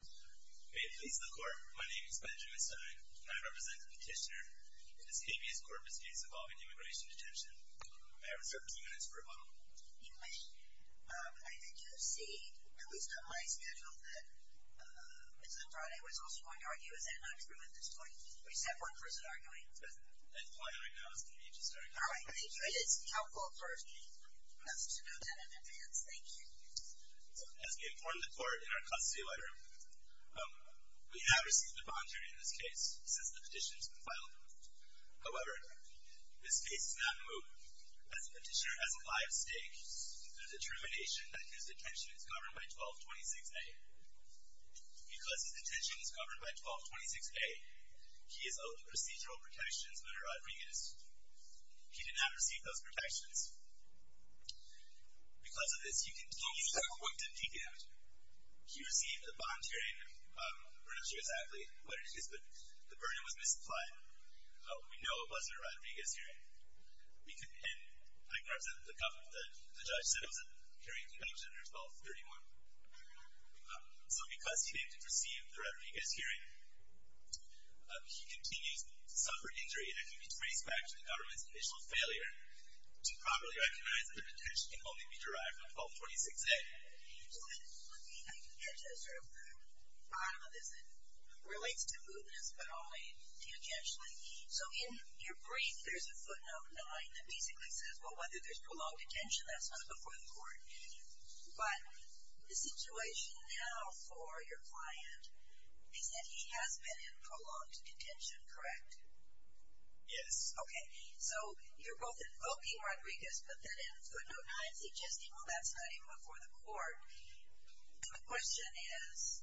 May it please the Court, my name is Benjamin Stein, and I represent the petitioner in this habeas corpus case involving immigration detention. I have reserved two minutes for rebuttal. English, I did you see at least on my schedule that Mr. Friday was also going to argue. Is that not true at this point? Or is that one person arguing? That client right now is going to be just arguing. All right, thank you. It is helpful for me to know that in advance. Thank you. As we informed the Court in our custody letter, we have received a bond duty in this case since the petition has been filed. However, this case has not moved. As a petitioner has a live stake in the determination that his detention is governed by 1226A. Because his detention is governed by 1226A, he is owed procedural protections under Rodriguez. He did not receive those protections. Because of this, he continues to have a wounded knee damage. He received a bond hearing, I'm not sure exactly where it is, but the burden was misapplied. We know it wasn't a Rodriguez hearing, and I can represent the judge said it was a hearing convention under 1231. So because he didn't receive the Rodriguez hearing, he continues to suffer injury, and I can trace back to the government's initial failure to properly recognize that the detention can only be derived from 1226A. I can get to the bottom of this. It relates to mootness, but only tangentially. So in your brief, there's a footnote 9 that basically says, well, whether there's prolonged detention, that's not before the Court. But the situation now for your client is that he has been in prolonged detention, correct? Yes. Okay, so you're both invoking Rodriguez, but then in footnote 9 suggesting, well, that's not even before the Court. The question is,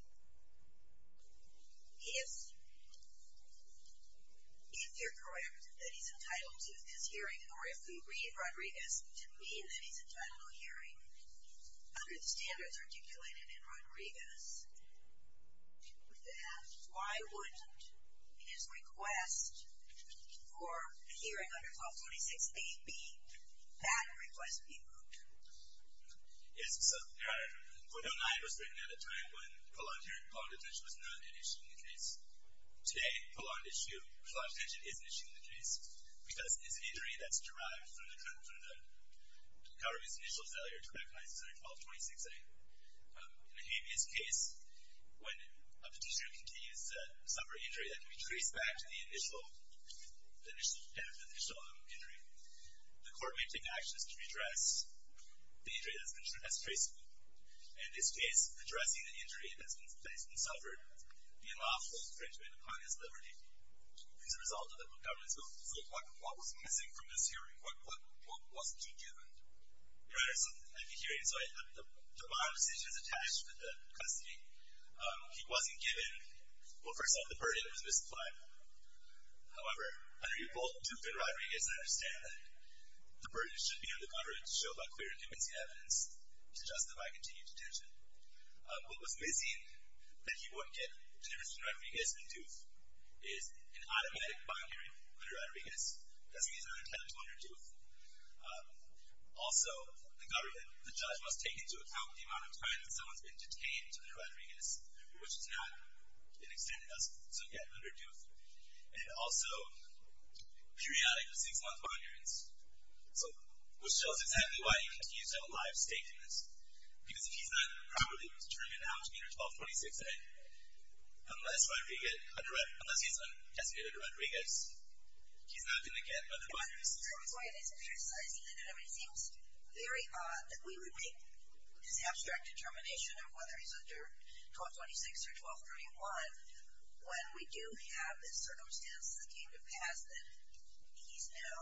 if you're correct that he's entitled to this hearing, or if we read Rodriguez to mean that he's entitled to a hearing, under the standards articulated in Rodriguez, then why wouldn't his request for a hearing under 1226A be that request being moot? Yes, so in footnote 9, it was written at a time when prolonged detention was not an issue in the case. Today, prolonged detention is an issue in the case because it's an injury that's derived from the government's initial failure to recognize 1226A. In a habeas case, when a petitioner continues to suffer an injury that can be traced back to the initial injury, the Court may take actions to redress the injury that's been traced. In this case, addressing the injury that's been suffered, the lawful infringement upon his liberty is a result of the government's moot. What was missing from this hearing? What wasn't you given? Right, so at the hearing, so I had the bond decisions attached with the custody. He wasn't given, well, first off, the burden was misapplied. However, under your bold tooth in Rodriguez, I understand that the burden should be on the government to show about clear and convincing evidence to justify continued detention. What was missing that he wouldn't get, to the difference between Rodriguez and tooth, is an automatic bond hearing under Rodriguez, that's the reason I'm entitled to under tooth. Also, the government, the judge must take into account the amount of time that someone's been detained under Rodriguez, which is not an extent that doesn't get under tooth. And also, periodic six-month bond hearings, which shows exactly why he continues to have a life state in this. Because if he's not properly determined how much meter 1246, unless he's designated to Rodriguez, he's not going to get under bond hearings. So that's why it is criticizing that, I mean, it seems very odd that we would make this abstract determination of whether he's under 1226 or 1231, when we do have this circumstance that came to pass that he's now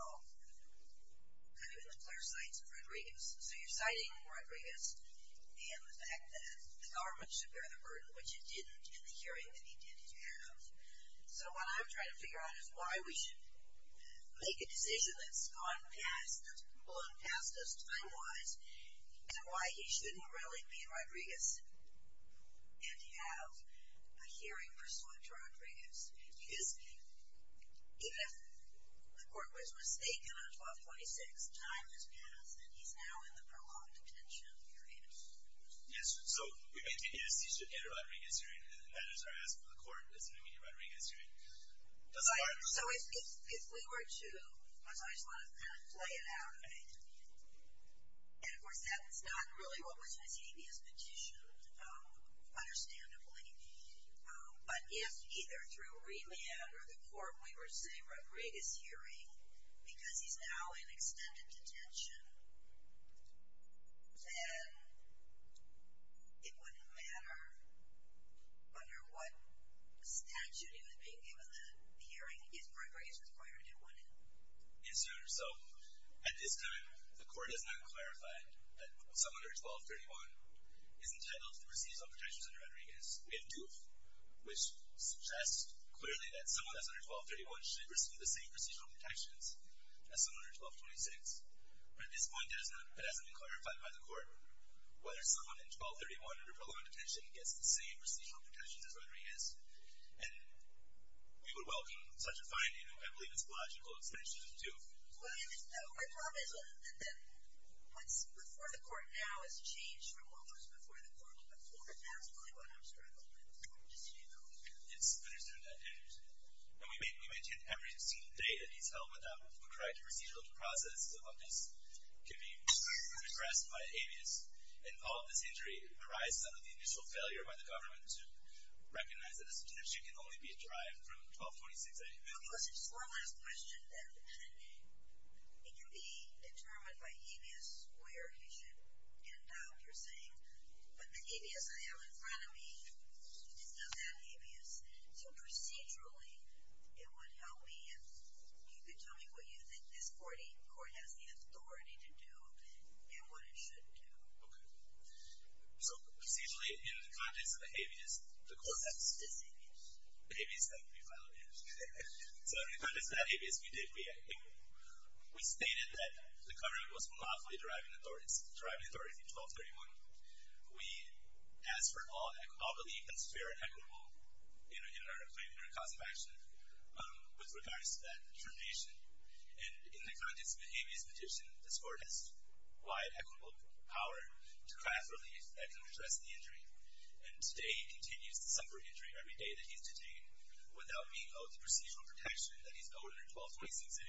kind of in the clear sights of Rodriguez. So you're citing Rodriguez and the fact that the government should bear the burden, which it didn't in the hearing that he tended to have. So what I'm trying to figure out is why we should make a decision that's gone past, that's been blown past us time-wise, and why he shouldn't really be in Rodriguez and have a hearing pursuant to Rodriguez. Because even if the court was mistaken on 1226, time has passed, and he's now in the prolonged detention period. Yes. So we made the decision to enter a Rodriguez hearing, and the matters are asked of the court as an immediate Rodriguez hearing. So if we were to, I just want to kind of play it out a bit. And, of course, that's not really what was received as petitioned, understandably. But if either through remand or the court we were to say Rodriguez hearing, because he's now in extended detention, then it wouldn't matter under what statute he was being given the hearing, if Rodriguez was required to do one. Yes, Your Honor. So at this time, the court has not clarified that someone under 1231 is entitled to the procedural protections under Rodriguez. We have two, which suggests clearly that someone that's under 1231 should receive the same procedural protections as someone under 1226. But at this point, it hasn't been clarified by the court whether someone in 1231 under prolonged detention gets the same procedural protections as Rodriguez. And we would welcome such a finding. I believe it's a logical extension of the two. Well, my problem is that what's before the court now has changed from what was before the court. And before the court now is really what I'm struggling with. So I'm just seeing those. Yes, I understand that. And we maintain every single day that he's held without the correct procedural process of this can be regressed by habeas. And all of this injury arises under the initial failure by the government to recognize that this detention can only be derived from 1226. One last question, then. It can be determined by habeas where he should end up, you're saying. But the habeas I have in front of me is not that habeas. So procedurally, it would help me if you could tell me what you think this 48th Court has the authority to do and what it should do. Okay. So procedurally, in the context of the habeas, the court has this habeas. Habeas that we violated. So in the context of that habeas, we did react. We stated that the covering was lawfully deriving authority, deriving authority in 1231. We ask for all relief that's fair and equitable in our claim and our cause of action with regards to that determination. And in the context of the habeas petition, this court has wide equitable power to craft relief that can redress the injury. And today, he continues to suffer injury every day that he's detained without being owed the procedural protection that he's owed under 1226A.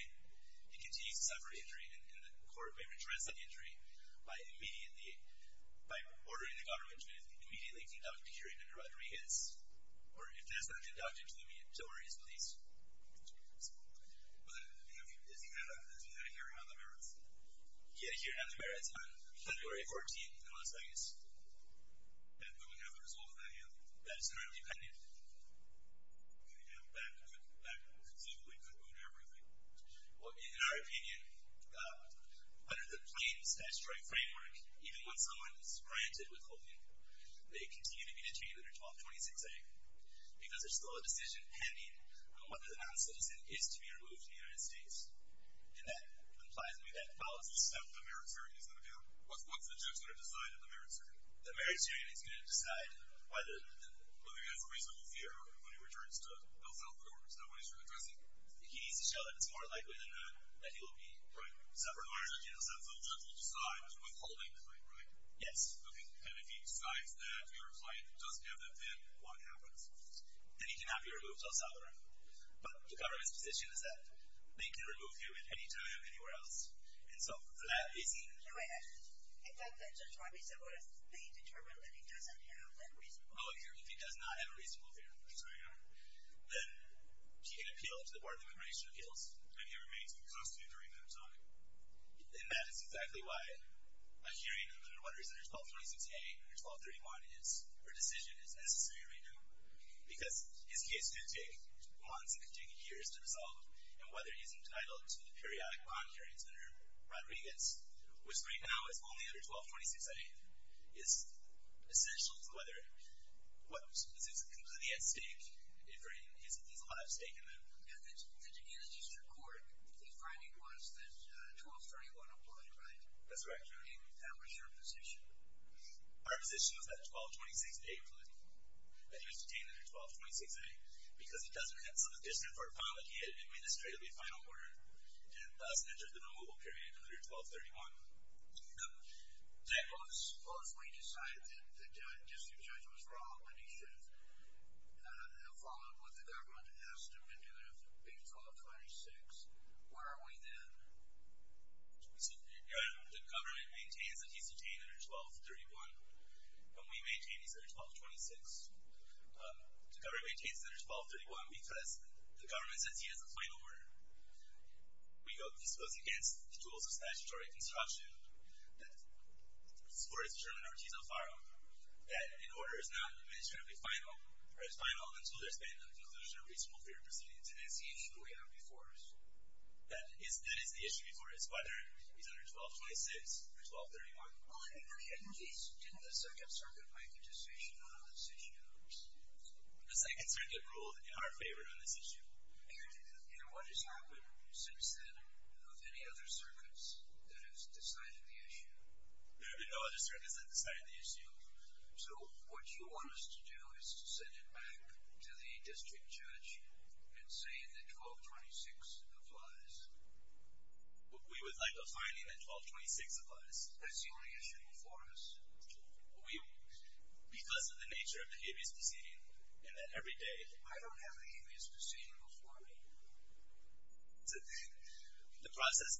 He continues to suffer injury, and the court may redress that injury by immediately, by ordering the government to immediately conduct a hearing under Rodriguez. Or if that's not conducted to the media, don't worry. It's police. But isn't that a hearing on the merits? Yeah, a hearing on the merits on February 14th in Las Vegas. And do we have a result of that yet? That is currently pending. Okay. And that would conclude everything. Well, in our opinion, under the plain statutory framework, even when someone is granted withholding, they continue to be detained under 1226A because there's still a decision pending on whether the non-citizen is to be removed from the United States. And that implies we have a policy step. The meritorian is going to do it? What's the judge going to decide in the meritorian? The meritorian is going to decide whether he has a reasonable fear when he returns to Philadelphia or it's not what he's really addressing. He needs to show that it's more likely than not that he will be. Right. So, regardless, that's a little to decide withholding, right? Yes. Okay. And if he decides that your client doesn't have that fear, what happens? Then he cannot be removed to El Salvador. But the government's position is that they can remove him at any time, anywhere else. And so that is even. In fact, the judge probably said what if they determined that he doesn't have that reasonable fear? Oh, if he does not have a reasonable fear. That's right. Then he can appeal to the Board of Immigration Appeals. And he remains in custody during that time. And that is exactly why a hearing under what is under 1226A or 1231 is a decision that's necessary right now. Because his case could take months. It could take years to resolve. And whether he's entitled to the periodic bond hearings under Rodriguez, which right now is only under 1226A, is essential to whether what is completely at stake, if he's a live stake in that. Yeah. Did you get a district court finding once that 1231 applied, right? That's right. And how was your position? Our position was that 1226A applied. That he was detained under 1226A because he doesn't have some additional authority. He had administratively final order and thus entered the removal period under 1231. Well, if we decided that the district judge was wrong and he should have followed what the government asked him to do under 1226, where are we then? The government maintains that he's detained under 1231. And we maintain he's under 1226. The government maintains that he's under 1231 because the government says he has a final order. We hope this goes against the tools of statutory construction that supports Chairman Ortiz-Alfaro, that an order is not administratively final or is final until there's been a conclusion of reasonable theory proceedings. And that's the issue we have before us. That is the issue before us, whether he's under 1226 or 1231. Well, let me ask you this. Didn't the Second Circuit make a decision on this issue? The Second Circuit ruled in our favor on this issue. And what has happened since then of any other circuits that has decided the issue? There have been no other circuits that have decided the issue. So what you want us to do is to send it back to the district judge and say that 1226 applies. We would like a finding that 1226 applies. That's the only issue before us. We, because of the nature of the habeas proceeding, and that every day. I don't have a habeas proceeding before me. The process,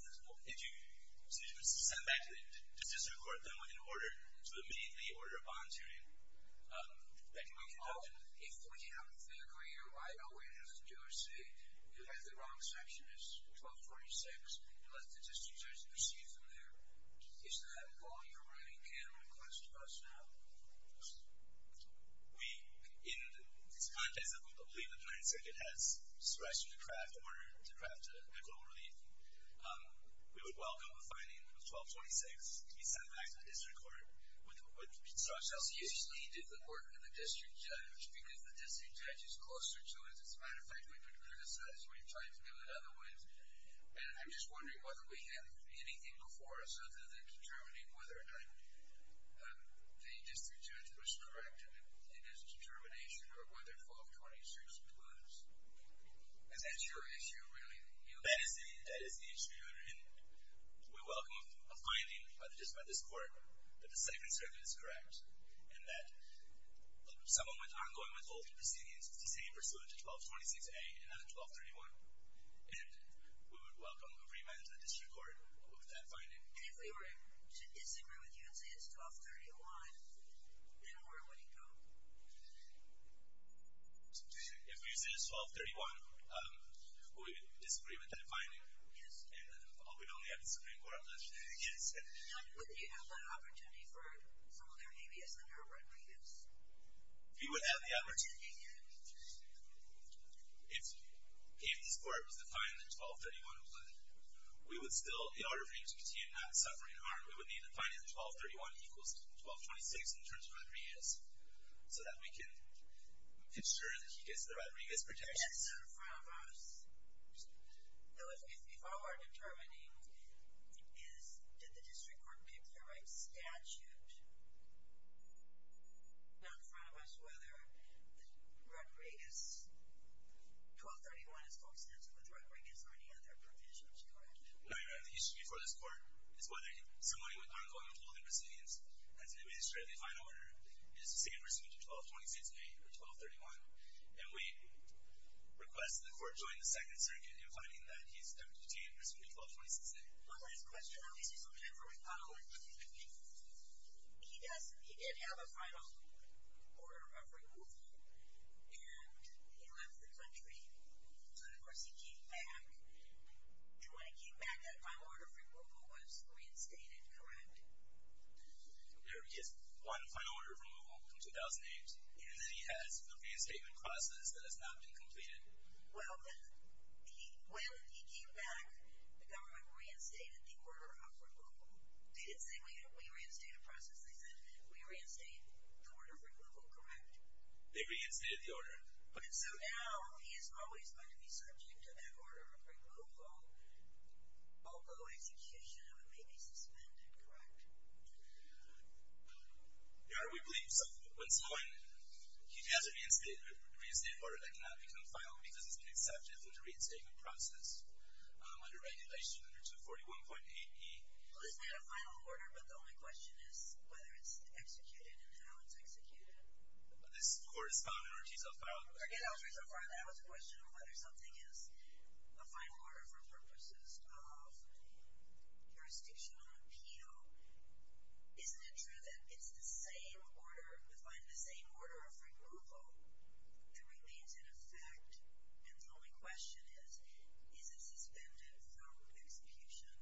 if you send it back to the district court, then we can order. So immediately order a volunteering. If we have a clear clear right on where it has to do or say, unless the wrong section is 1226, and let the district judge proceed from there, is that all you're really can request of us now? We, in the context of the belief that the Second Circuit has stressed in order to craft a global relief, we would welcome a finding of 1226 to be sent back to the district court. So excuse me, did the court and the district judge, because the district judge is closer to us. As a matter of fact, we've been criticized. We've tried to do it other ways. And I'm just wondering whether we have anything before us other than determining whether or not the district judge was correct in his determination or whether 1226 was. Is that your issue really? That is the issue. And we welcome a finding, whether just by this court, that the Second Circuit is correct, and that someone with ongoing withholding proceedings is proceeding pursuant to 1226A and not to 1231. And we would welcome a remand to the district court with that finding. And if we were to disagree with you and say it's 1231, then where would it go? If we say it's 1231, we would disagree with that finding. Yes. And we'd only have the Supreme Court left. Yes. Now, would you have that opportunity for some of their ABS and their readiness? We would have the opportunity, yes. If this court was defying the 1231 plan, we would still, in order for him to continue not suffering harm, we would need to find him 1231 equals 1226 in terms of Rodriguez so that we can ensure that he gets the Rodriguez protections. Yes. Not in front of us. No, if all we're determining is did the district court pick the right statute, not in front of us whether Rodriguez, 1231 is constant with Rodriguez or any other provisions, correct? No, Your Honor. The issue before this court is whether somebody with ongoing withholding resilience has an administratively fine order, is the same pursuant to 1226A or 1231. And we request that the court join the Second Circuit in finding that he's deputy detained pursuant to 1226A. One last question. I want to see some time for rebuttal. He did have a final order of removal. And he left the country. So, of course, he came back. When he came back, that final order of removal was reinstated, correct? Yes, one final order of removal from 2008. And then he has a reinstatement process that has not been completed. Well, when he came back, the government reinstated the order of removal. They didn't say, we reinstate a process. They said, we reinstate the order of removal, correct? They reinstated the order. So now he is always going to be subject to that order of removal, although execution of it may be suspended, correct? Your Honor, we believe so. When someone has a reinstated order that cannot become final because it's been accepted through the reinstatement process under regulation under 241.8E. Well, it's not a final order, but the only question is whether it's executed and how it's executed. This court has found an order so far. Forget order so far. That was a question of whether something is a final order for purposes of jurisdictional appeal. Isn't it true that it's the same order, the same order of removal that remains in effect? And the only question is, is it suspended from execution?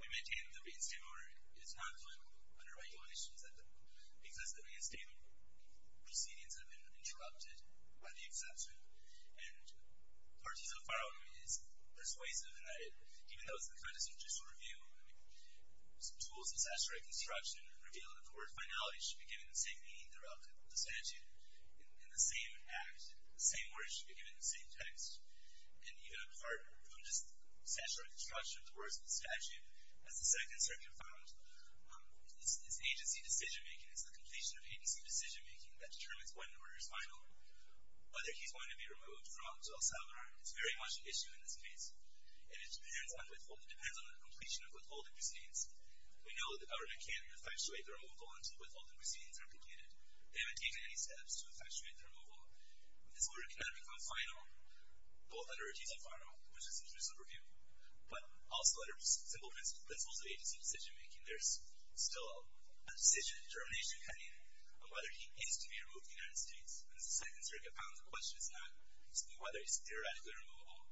We maintain that the reinstatement order is not going under regulation because the reinstatement proceedings have been interrupted by the exception. And the parties so far is persuasive in that even though it's the kind of jurisdictional review, I mean, tools of statutory construction reveal that the court's finality should be given the same meaning, the statute, in the same act. The same words should be given in the same text. And even apart from just statutory construction of the words in the statute, as the Second Circuit found, it's agency decision-making. It's the completion of agency decision-making that determines when the order is final, whether he's going to be removed from El Salvador. It's very much an issue in this case. And it depends on the completion of withholding proceedings. We know that the government can't effectuate the removal until withholding proceedings are completed. They haven't taken any steps to effectuate the removal. And this order cannot become final, both under a rejected final, which is a judicial review, but also under simple principles of agency decision-making. There's still a decision determination pending on whether he is to be removed from the United States. And as the Second Circuit found, the question is not whether he's theoretically removable.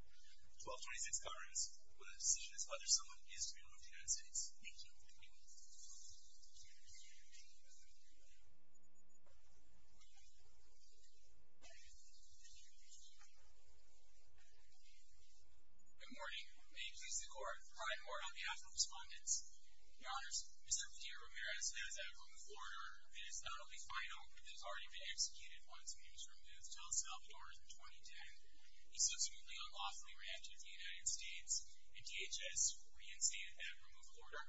1226 governs when the decision is whether someone is to be removed from the United States. Thank you. Good morning. May it please the Court. Brian Ward on behalf of Respondents. Your Honors, Mr. Padilla-Ramirez has a removed order that is not only final, but that has already been executed once when he was removed from El Salvador in 2010. He subsequently unlawfully ran to the United States, and DHS reinstated that removed order.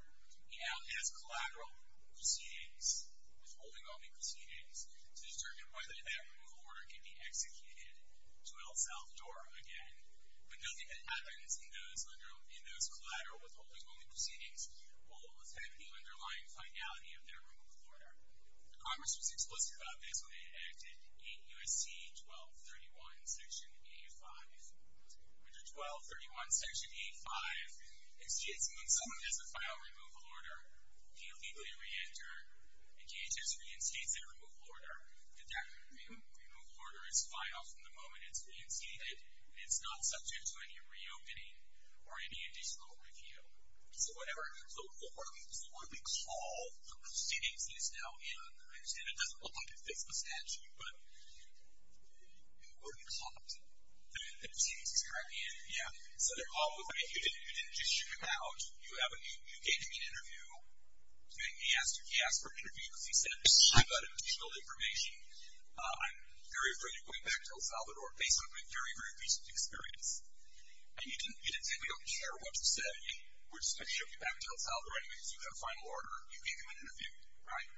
He now has collateral proceedings, withholding only proceedings, to determine whether that removed order can be executed to El Salvador again. But nothing that happens in those collateral withholding only proceedings will affect the underlying finality of their removed order. The Congress was explicit about this when they enacted 8 U.S.C. 1231 Section A-5. Under 1231 Section A-5, it states that when someone has a final removal order, they illegally reenter, and DHS reinstates that removed order. That removed order is filed from the moment it's reinstated, and it's not subject to any reopening or any additional review. So whatever. So what we call the proceedings is now in. I understand it doesn't look like it fits the statute. But what do you call them? The proceedings. Correct? Yeah. So you didn't just shoot him out. You gave him an interview. He asked for an interview because he said, I've got additional information. I'm very afraid of going back to El Salvador based on my very, very recent experience. And you didn't say we don't care what you said. We're just going to shoot you back to El Salvador anyway because you've got a final order. You gave him an interview. Right?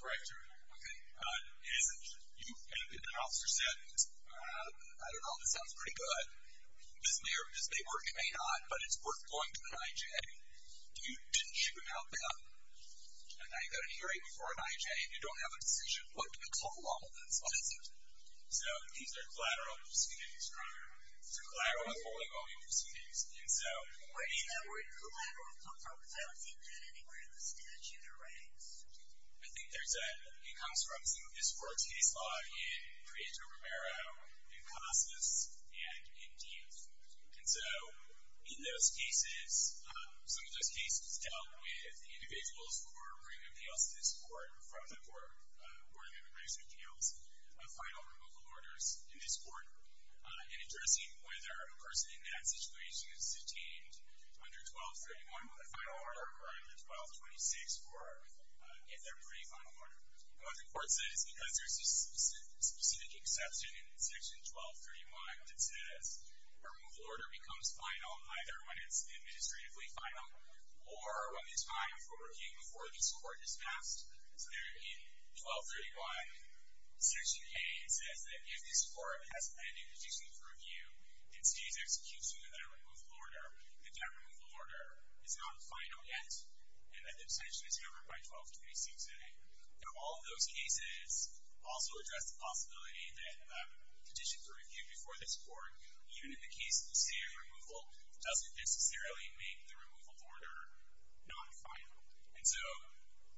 Correct. Okay. And the officer said, I don't know, this sounds pretty good. This may work. It may not. But it's worth going to an IJ. You didn't shoot him out then. And now you've got an hearing before an IJ, and you don't have a decision. What do you call all of this? So these are collateral proceedings. Correct? It's a collateral withholding of all the proceedings. And so. Where did that word collateral come from? Because I don't see that anywhere in the statute or writings. I think there's a, it comes from some of this court's case law in Prieto Romero, in Costas, and in Diaz. And so in those cases, some of those cases dealt with individuals who were bringing appeals to this court from the Court of Immigration Appeals, a final removal orders in this court, and addressing whether a person in that situation is detained under 1231 with a final order occurring at 1226, or if they're pre-final order. And what the court says, because there's a specific exception in section 1231 that says, a removal order becomes final either when it's administratively final, or when it's time for review before this court is passed. So there in 1231, section 8, it says that if this court has any conditions for review, and sees execution of that removal order, that that removal order is not final yet, and that the extension is covered by 1226A. Now all of those cases also address the possibility that conditions for review before this court, even in the case of the state of removal, doesn't necessarily make the removal order non-final. And so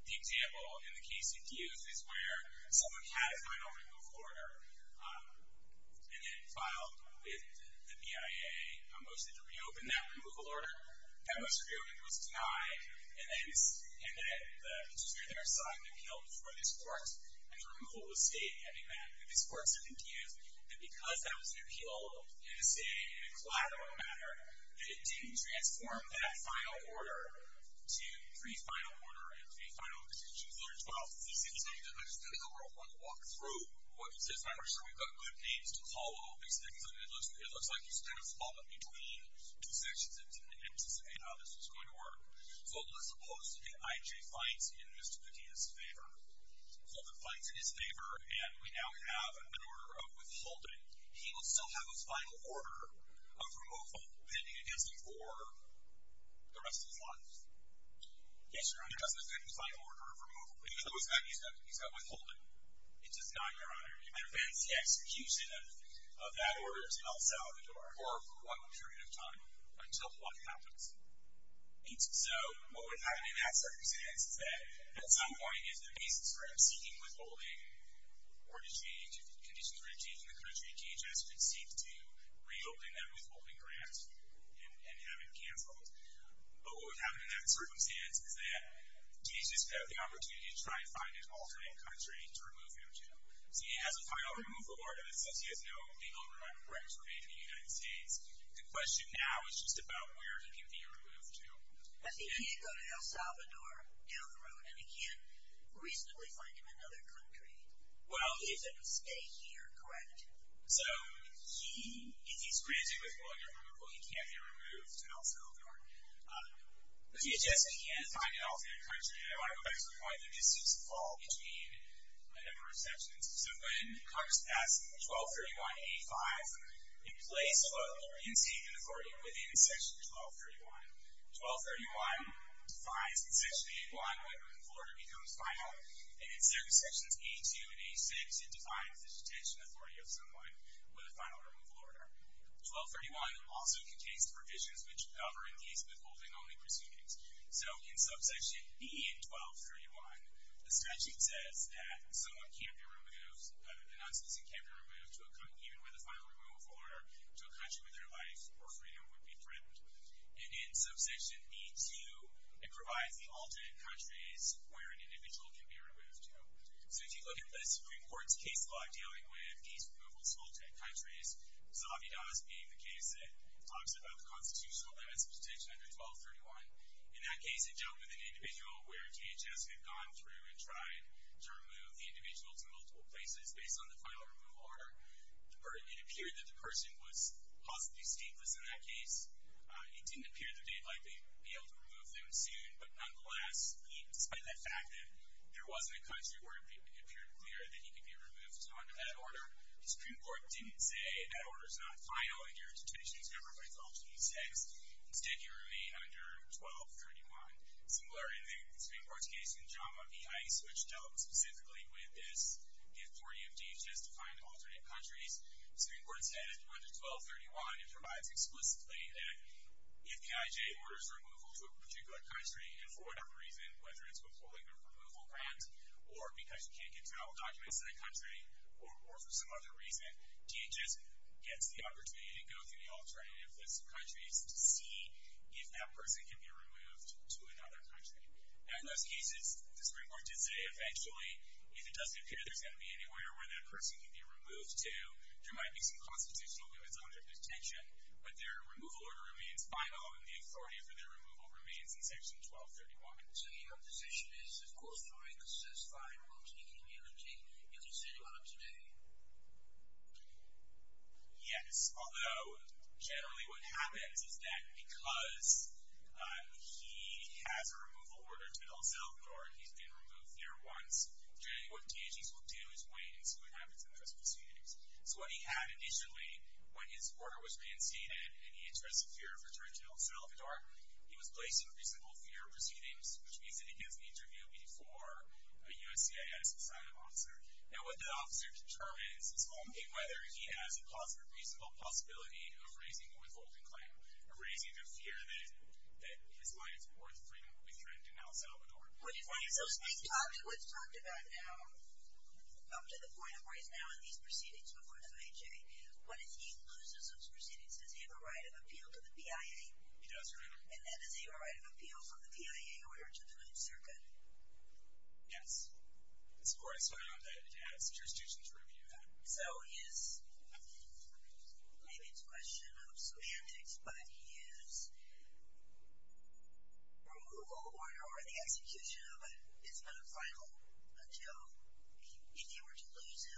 the example in the case of Diaz is where someone has final removal order, and it filed with the BIA, a motion to reopen that removal order. That motion to reopen it was denied, and then it was handed to the administrative side and appealed before this court. And the removal was stayed, and this court said in Diaz that because that was an appeal in a state, in a collateral manner, that it didn't transform that final order to pre-final order, and pre-final execution. So there's 1226A, and I just kind of want to walk through what this is. I'm sure we've got good names to call all these things, but it looks like he's kind of fallen between two sections and didn't anticipate how this was going to work. Fulton was opposed to the IJ fines in Mr. Diaz's favor. Fulton fines in his favor, and we now have an order of withholding. He will still have his final order of removal pending against him for the rest of his life. Yes, Your Honor. He doesn't have his final order of removal. He's got withholding. He does not, Your Honor. It prevents the execution of that order until Salvador, or for what period of time until what happens. So what would happen in that circumstance is that at some point is the basis for him seeking withholding or to change, if conditions were to change in the country, DHS would seek to reopen that withholding grant and have it canceled. But what would happen in that circumstance is that DHS would have the opportunity to try and find an alternate country to remove him to. So he has a final removal order, but since he has no legal remand of record to remain in the United States, the question now is just about where he can be removed to. But he can't go to El Salvador down the road, and he can't reasonably find him another country. He has to stay here, correct? So he is granted withholding or removal. He can't be removed to El Salvador. DHS can't find an alternate country. And I want to go back to the point of the distance fall between a number of sections. So when Congress passed 1231A.5, it placed withholding and detention authority within Section 1231. 1231 defines Section 8.1, when a removal order becomes final, and instead of Sections 8.2 and 8.6, it defines the detention authority of someone with a final removal order. 1231 also contains the provisions which cover in case of withholding only proceedings. So in Subsection B in 1231, the statute says that someone can't be removed, the non-citizen can't be removed, even with a final removal order, to a country where their life or freedom would be threatened. And in Subsection B.2, it provides the alternate countries where an individual can be removed to. So if you look at the Supreme Court's case law dealing with these removals to alternate countries, Zavidas being the case that talks about the constitutional limits of detention under 1231, in that case it dealt with an individual where DHS had gone through and tried to remove the individual to multiple places based on the final removal order. It appeared that the person was possibly stateless in that case. It didn't appear that they'd likely be able to remove them soon, but nonetheless, despite that fact that there wasn't a country where it appeared clear that he could be removed under that order, the Supreme Court didn't say that order's not final in your detention, it's not everybody's option in sex. Instead, he remained under 1231. Similar in the Supreme Court's case in JAMA v. ICE, which dealt specifically with this gift warranty of DHS to find alternate countries, the Supreme Court said under 1231 it provides explicitly that if the IJ orders removal to a particular country and for whatever reason, whether it's withholding a removal grant or because you can't get travel documents to that country or for some other reason, DHS gets the opportunity to go through the alternative list of countries to see if that person can be removed to another country. In those cases, the Supreme Court did say eventually, if it does appear there's going to be anywhere where that person can be removed to, there might be some constitutional limits under detention, but their removal order remains final and the authority for their removal remains in section 1231. So your position is, of course, to reconsist by removing immunity if it's anyone of today? Yes, although generally what happens is that because he has a removal order to El Salvador and he's been removed there once, generally what DHS will do is wait and see what happens in those proceedings. So what he had initially, when his order was reinstated and he addressed the fear of return to El Salvador, he was placed in reasonable fear of proceedings, which we said against the interview before a USCIS assignment officer. Now what that officer determines is only whether he has a reasonable possibility of raising a withholding claim, of raising the fear that his right of support will be threatened in El Salvador. What's talked about now, up to the point of where he's now in these proceedings before FHA, what if he loses those proceedings? Does he have a right of appeal to the PIA? He does, Your Honor. And then does he have a right of appeal from the PIA in order to the Ninth Circuit? Yes. This Court has found that it has jurisdiction to review that. So his, maybe it's a question of semantics, but his removal order or the execution of it is not final until if he were to lose the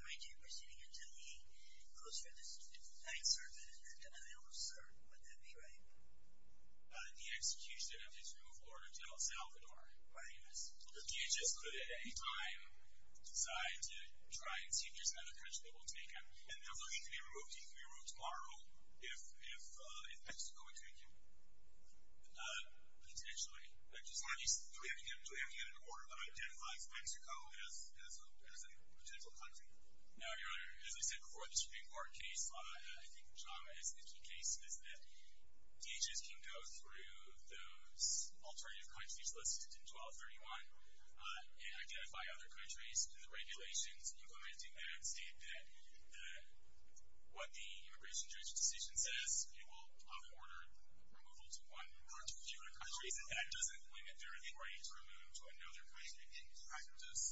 right to proceeding until the closure of the Ninth Circuit in the Niles, or would that be right? The execution of his removal order until El Salvador. Why do you ask? Because DHS could at any time decide to try and see if there's another country that will take him. And there's no need to be removed. He can be removed tomorrow if Mexico would take him. Potentially. At least, do we have to get an order that identifies Mexico as a potential country? No, Your Honor. As I said before, this Supreme Court case, I think JAMA is the key case, is that it removes alternative countries listed in 1231 and identify other countries. The regulations implementing that state that what the immigration judge's decision says it will off-order removal to one or to a few other countries. That doesn't limit their right to remove to another country. In practice,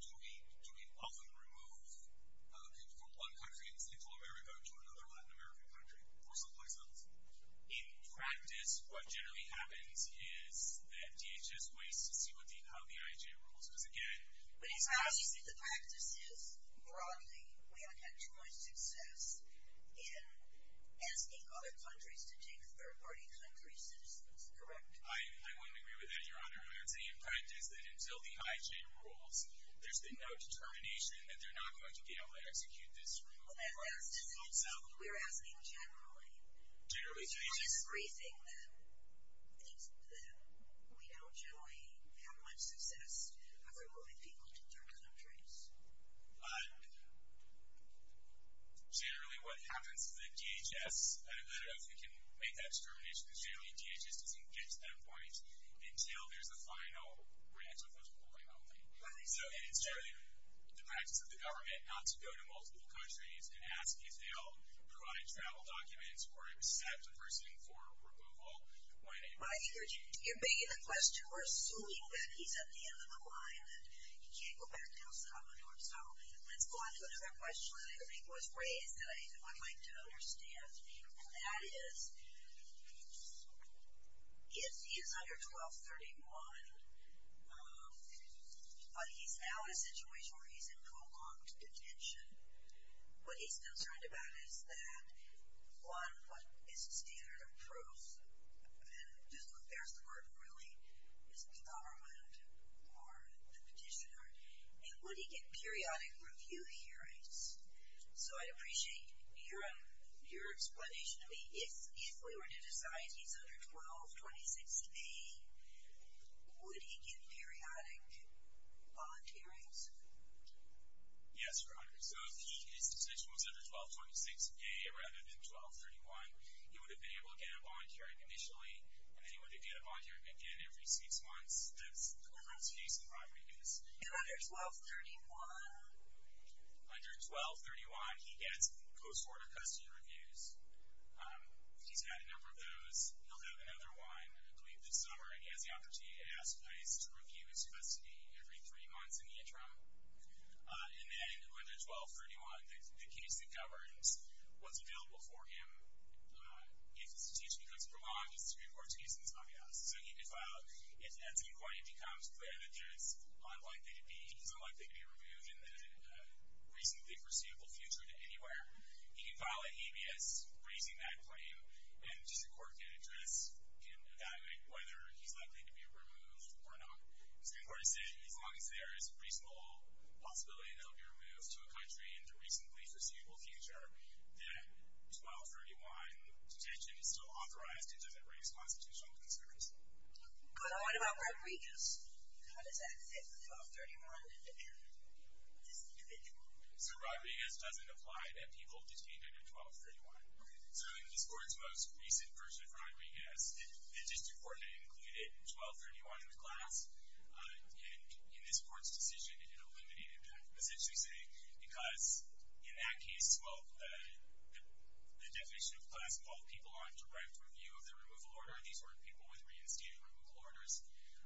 do we often remove from one country in Central America to another Latin American country? For simple examples. In practice, what generally happens is that DHS waits to see how the IJ rules. But it's obvious that the practice is, broadly, we haven't had too much success in asking other countries to take third-party country citizens. Correct? I wouldn't agree with that, Your Honor. I would say in practice that until the IJ rules, there's been no determination that they're not going to be able to execute this removal. We're asking generally. Is there a reason that we don't generally have much success of removing people to third countries? Generally, what happens is that DHS, I don't know if we can make that determination, but generally DHS doesn't get to that point until there's a final reaction from the ruling only. It's generally the practice of the government not to go to multiple countries and ask if they'll provide travel documents or accept a person for removal. You're begging the question. We're assuming that he's at the end of the line and he can't go back to El Salvador. So, let's go on to another question that I think was raised that I would like to understand. And that is, if he is under 1231, but he's now in a situation where he's in prolonged detention, what he's concerned about is that one, what is the standard of proof, and there's the word really, is the government or the petitioner, and would he get periodic review hearings? So, I'd appreciate your explanation to me. If we were to decide he's under 1226A, would he get periodic volunteerings? Yes, Your Honor. So, if his detention was under 1226A rather than 1231, he would have been able to get a volunteering initially, and then he would have to get a volunteering again every six months. That's the government's case in primary case. And under 1231? Under 1231, he gets post-mortem custody reviews. He's had a number of those. He'll have another one, I believe this summer in Asiopathy. It asks police to review his custody every three months in the interim. And then under 1231, the case that governs what's available for him, if his detention becomes prolonged, is to be reported to Houston's Bobby House. So, he could file as an inquiry. It becomes clear that there's unlikely to be, he's unlikely to be reviewed in the reasonably foreseeable future to anywhere. He could file a habeas, raising that claim, and just a court can address and evaluate whether he's likely to be removed or not. So, the court is saying as long as there is reasonable possibility that he'll be removed to a country in the reasonably foreseeable future, that 1231 detention is still authorized and doesn't raise constitutional concerns. But what about Rodriguez? How does that fit with 1231 and this individual? So, Rodriguez doesn't apply to people detained under 1231. So, in this court's most recent version of Rodriguez, the district court included 1231 in the class. In this court's decision, it eliminated that. Essentially saying because in that case, well, the definition of class involved people on direct review of the removal order. These were people with reinstated removal orders.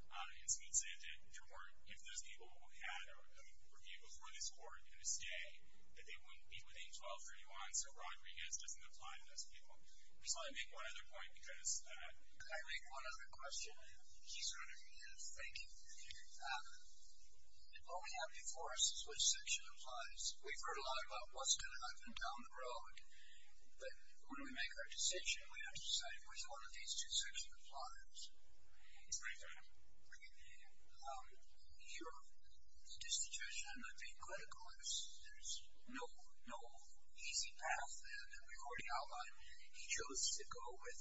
And so, it said that there weren't, if those people had a review before this court and a stay, that they wouldn't be within 1231. So, I make one other point because I make one other question. He's going to begin. Thank you. What we have before us is which section applies. We've heard a lot about what's going to happen down the road. But when we make our decision, we have to decide which one of these two sections applies. Your distribution being clinical, there's no easy path in recording outline. He chose to go with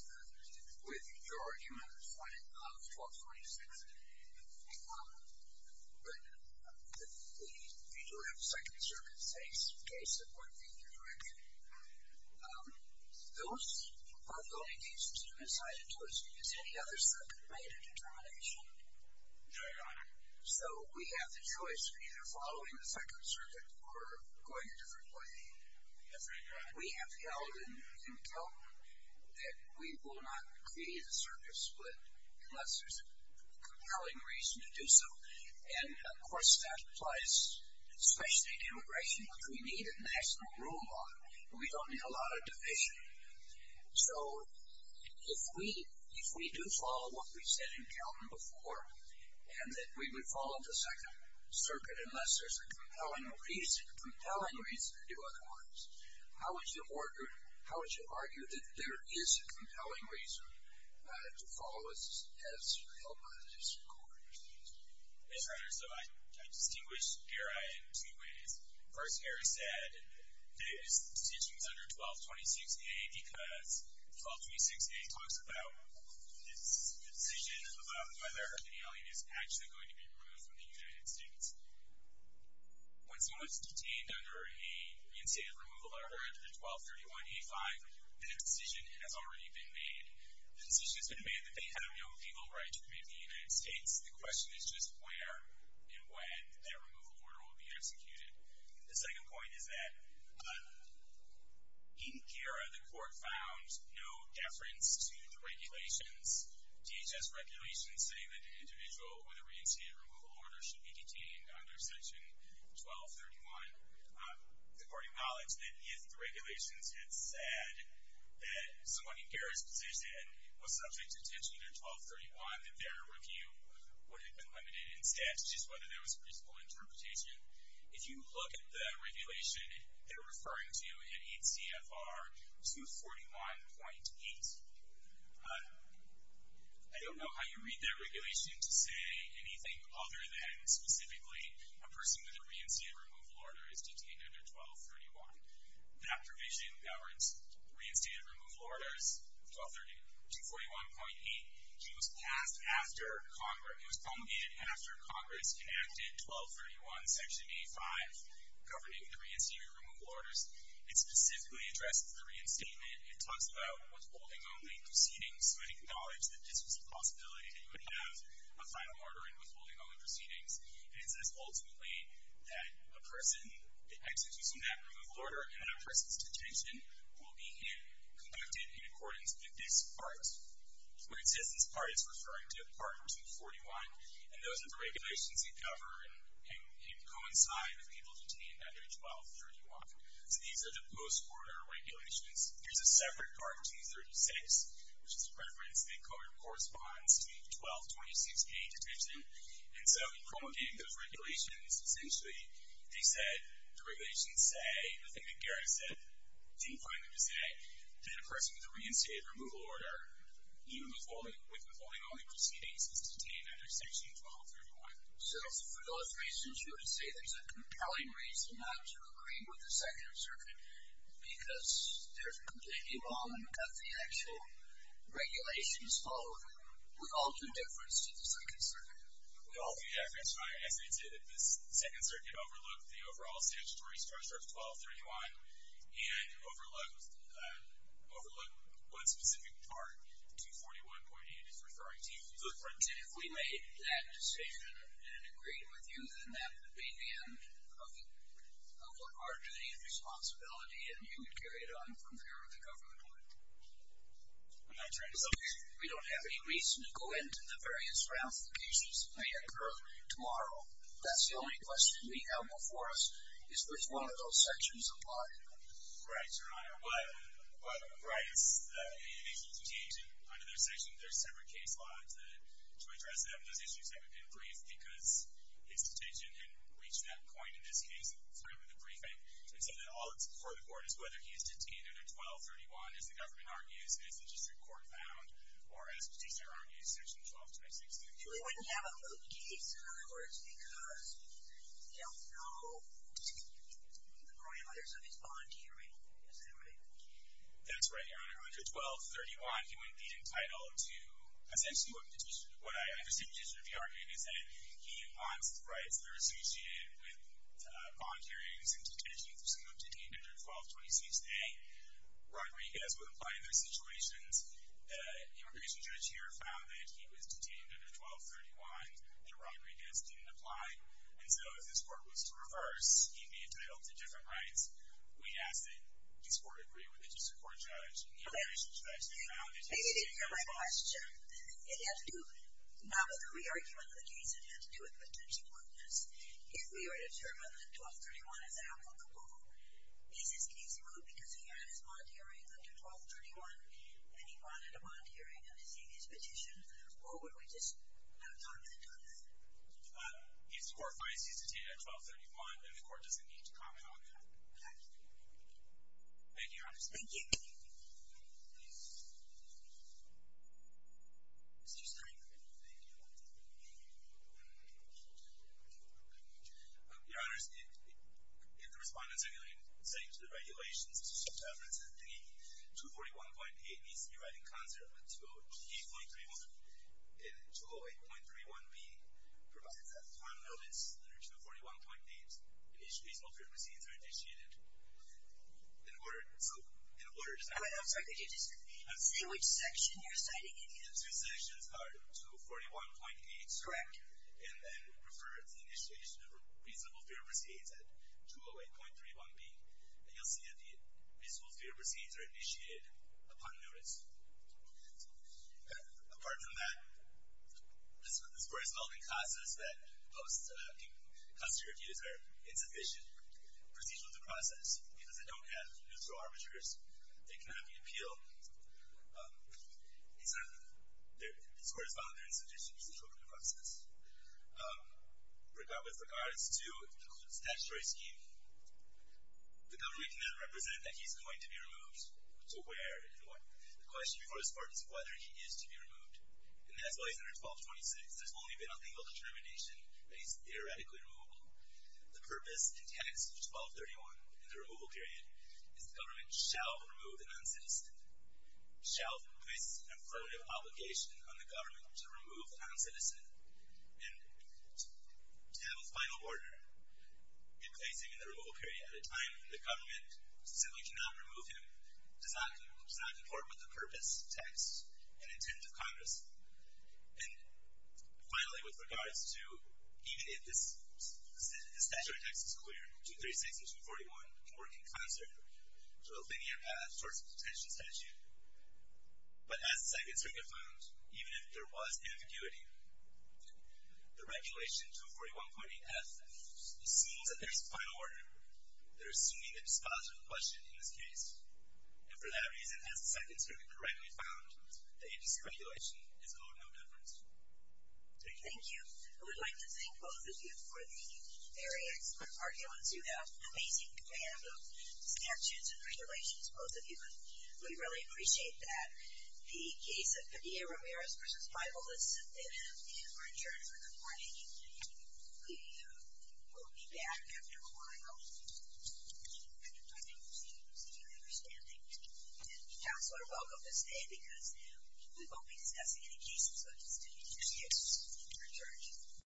your argument of 1226. But we do have second circumstances in case it weren't the other direction. Those are the only cases that have been cited to us. Has any other circuit made a determination? No, Your Honor. So, we have the choice of either following the second circuit or going a different way. We have held in Kelton that we will not create a circuit split unless there's a compelling reason to do so. And, of course, that applies especially to immigration because we need a national rule law. We don't need a lot of division. So, if we do follow what we said in Kelton before and that we would follow the second circuit unless there's a compelling reason to do otherwise, how would you argue that there is a compelling reason to follow as held by the District Court? Yes, Your Honor. So, I distinguish Garay in two ways. First, Garay said that his decision was under 1226A because 1226A talks about this decision about whether an alien is actually going to be removed from the United States. When someone is detained under a reinstated removal order under 1231A5, that decision has already been made. The decision has been made that they have no legal right to commit to the United States. The question is just where and when that removal order will be executed. The second point is that found no deference to the regulations. DHS regulations say that an individual with a reinstated removal order should be detained under section 1231. The Court acknowledged that if the regulations had said that someone in Garay's position was subject to detention under 1231, that their review would have been limited in statute as to whether there was a principle interpretation. If you look at the regulation they're referring to in 8 CFR 241.8, I don't know how you read that regulation to say anything other than specifically a person with a reinstated removal order is detained under 1231. That provision governs reinstated removal orders 241.8. It was passed after Congress, it was promulgated after Congress enacted 1231 section A5 governing the reinstated removal orders. It specifically addresses the reinstatement. It talks about withholding only proceedings, so it acknowledged that this was a possibility that you would have a final order in withholding only proceedings. And it says ultimately that a person, the execution of that removal order and that person's detention will be conducted in accordance with this part. When it says this part, it's referring to part 141, and those are the regulations that govern and coincide with being able to detain under 1231. So these are the post-order regulations. There's a separate part, T36, which is a preference that corresponds to 1226A detention, and so in promulgating those regulations, essentially they said the regulations say the thing that Garrett said didn't find them to say that a person with a reinstated removal order even with withholding only proceedings is detained under section 1231. So for those reasons you would say there's a compelling reason not to agree with the Second Circuit because they're completely wrong about the actual regulations followed. We all do difference to the Second Circuit. We all do. As I said, the Second Circuit overlooked the overall statutory structure of 1231 and overlooked what specific part 241.8 is referring to. If we made that decision and agreed with you, then that would be the end of our duty and responsibility and you would carry it on from here at the government level. We don't have any reason to go into the various ratifications that may occur tomorrow. That's the only question we have before us is which one of those sections applied. Right, Your Honor. But, right, it's a detention under their section. There's separate case law to address those issues that we've been briefed because the execution reached that point in this case through the briefing. So all that's before the court is whether he is detained under 1231, as the government argues, as the district court found, or as Petitioner argues, section 1226. He wouldn't have a moot case, in other words, because he don't know the growing others of his bond hearing. Is that right? That's right, Your Honor. Under 1231, he wouldn't be entitled to essentially what Petitioner would be arguing is that he wants the rights that are associated with bond hearings and detention, so he wouldn't be detained under 1226A. Rodriguez would apply in those situations. The immigration judge here found that he was detained under 1231 and Rodriguez didn't apply. And so if this court was to reverse, he'd be entitled to different rights. We ask that this court agree with the district court judge. And the immigration judge found that he's not going to re-argue under the case that had to do with potential mootness. If we were to determine that 1231 is applicable, is this case moot because he had his bond hearing under 1231 and he wanted a bond hearing on his previous petition, or would we just not comment on that? If the court finds he's detained under 1231, then the court doesn't need to comment on that. Okay. Thank you, Your Honor. Thank you. Please. Mr. Stein. Thank you. Your Honor, if the respondents are going to say to the regulations, the 241.8 needs to be right in concert with 208.31B provided that time limits under 241.8 in each reasonable court proceedings are initiated in order to I'm sorry, could you just say which section you're citing in here? The two sections are 241.8 Correct. And then refer to the initiation of reasonable fair proceedings at 208.31B and you'll see that the reasonable fair proceedings are initiated upon notice. Apart from that, this court is held in causes that post custody reviews are insufficient procedural to process because they don't have neutral arbiters that can have the appeal this court is held in procedural to process. With regards to the statutory scheme, the government cannot represent that he's going to be removed. So where and what? The question before this court is whether he is to be removed. And that's why he's under 1226. There's only been a legal determination that he's erratically removable. The purpose and text of 1231 in the removal period is the government shall remove the non-citizen shall place an affirmative obligation on the government to remove the non-citizen and to have a final order placing him in the removal period at a time when the government simply cannot remove him does not comport with the purpose, text, and intent of Congress. And finally, with regards to even if this statutory text is clear, 236 and 241 work in concert to a linear path towards a detention statute but as the Second Circuit found, even if there was ambiguity, the regulation 241.8F assumes that there's a final order. They're assuming that it's a positive question in this case and for that reason, as the Second Circuit correctly found, the agency regulation is of no difference. Thank you. I would like to thank both of you for the very excellent arguments. You have an amazing band of statutes and regulations, both of you, and we really appreciate that. The case of Padilla-Ramirez v. Bible is submitted and we're adjourned for the morning. We will be back after a while. Thank you for your understanding. Counselor, welcome to stay because we won't be discussing any cases such as 26. We're adjourned.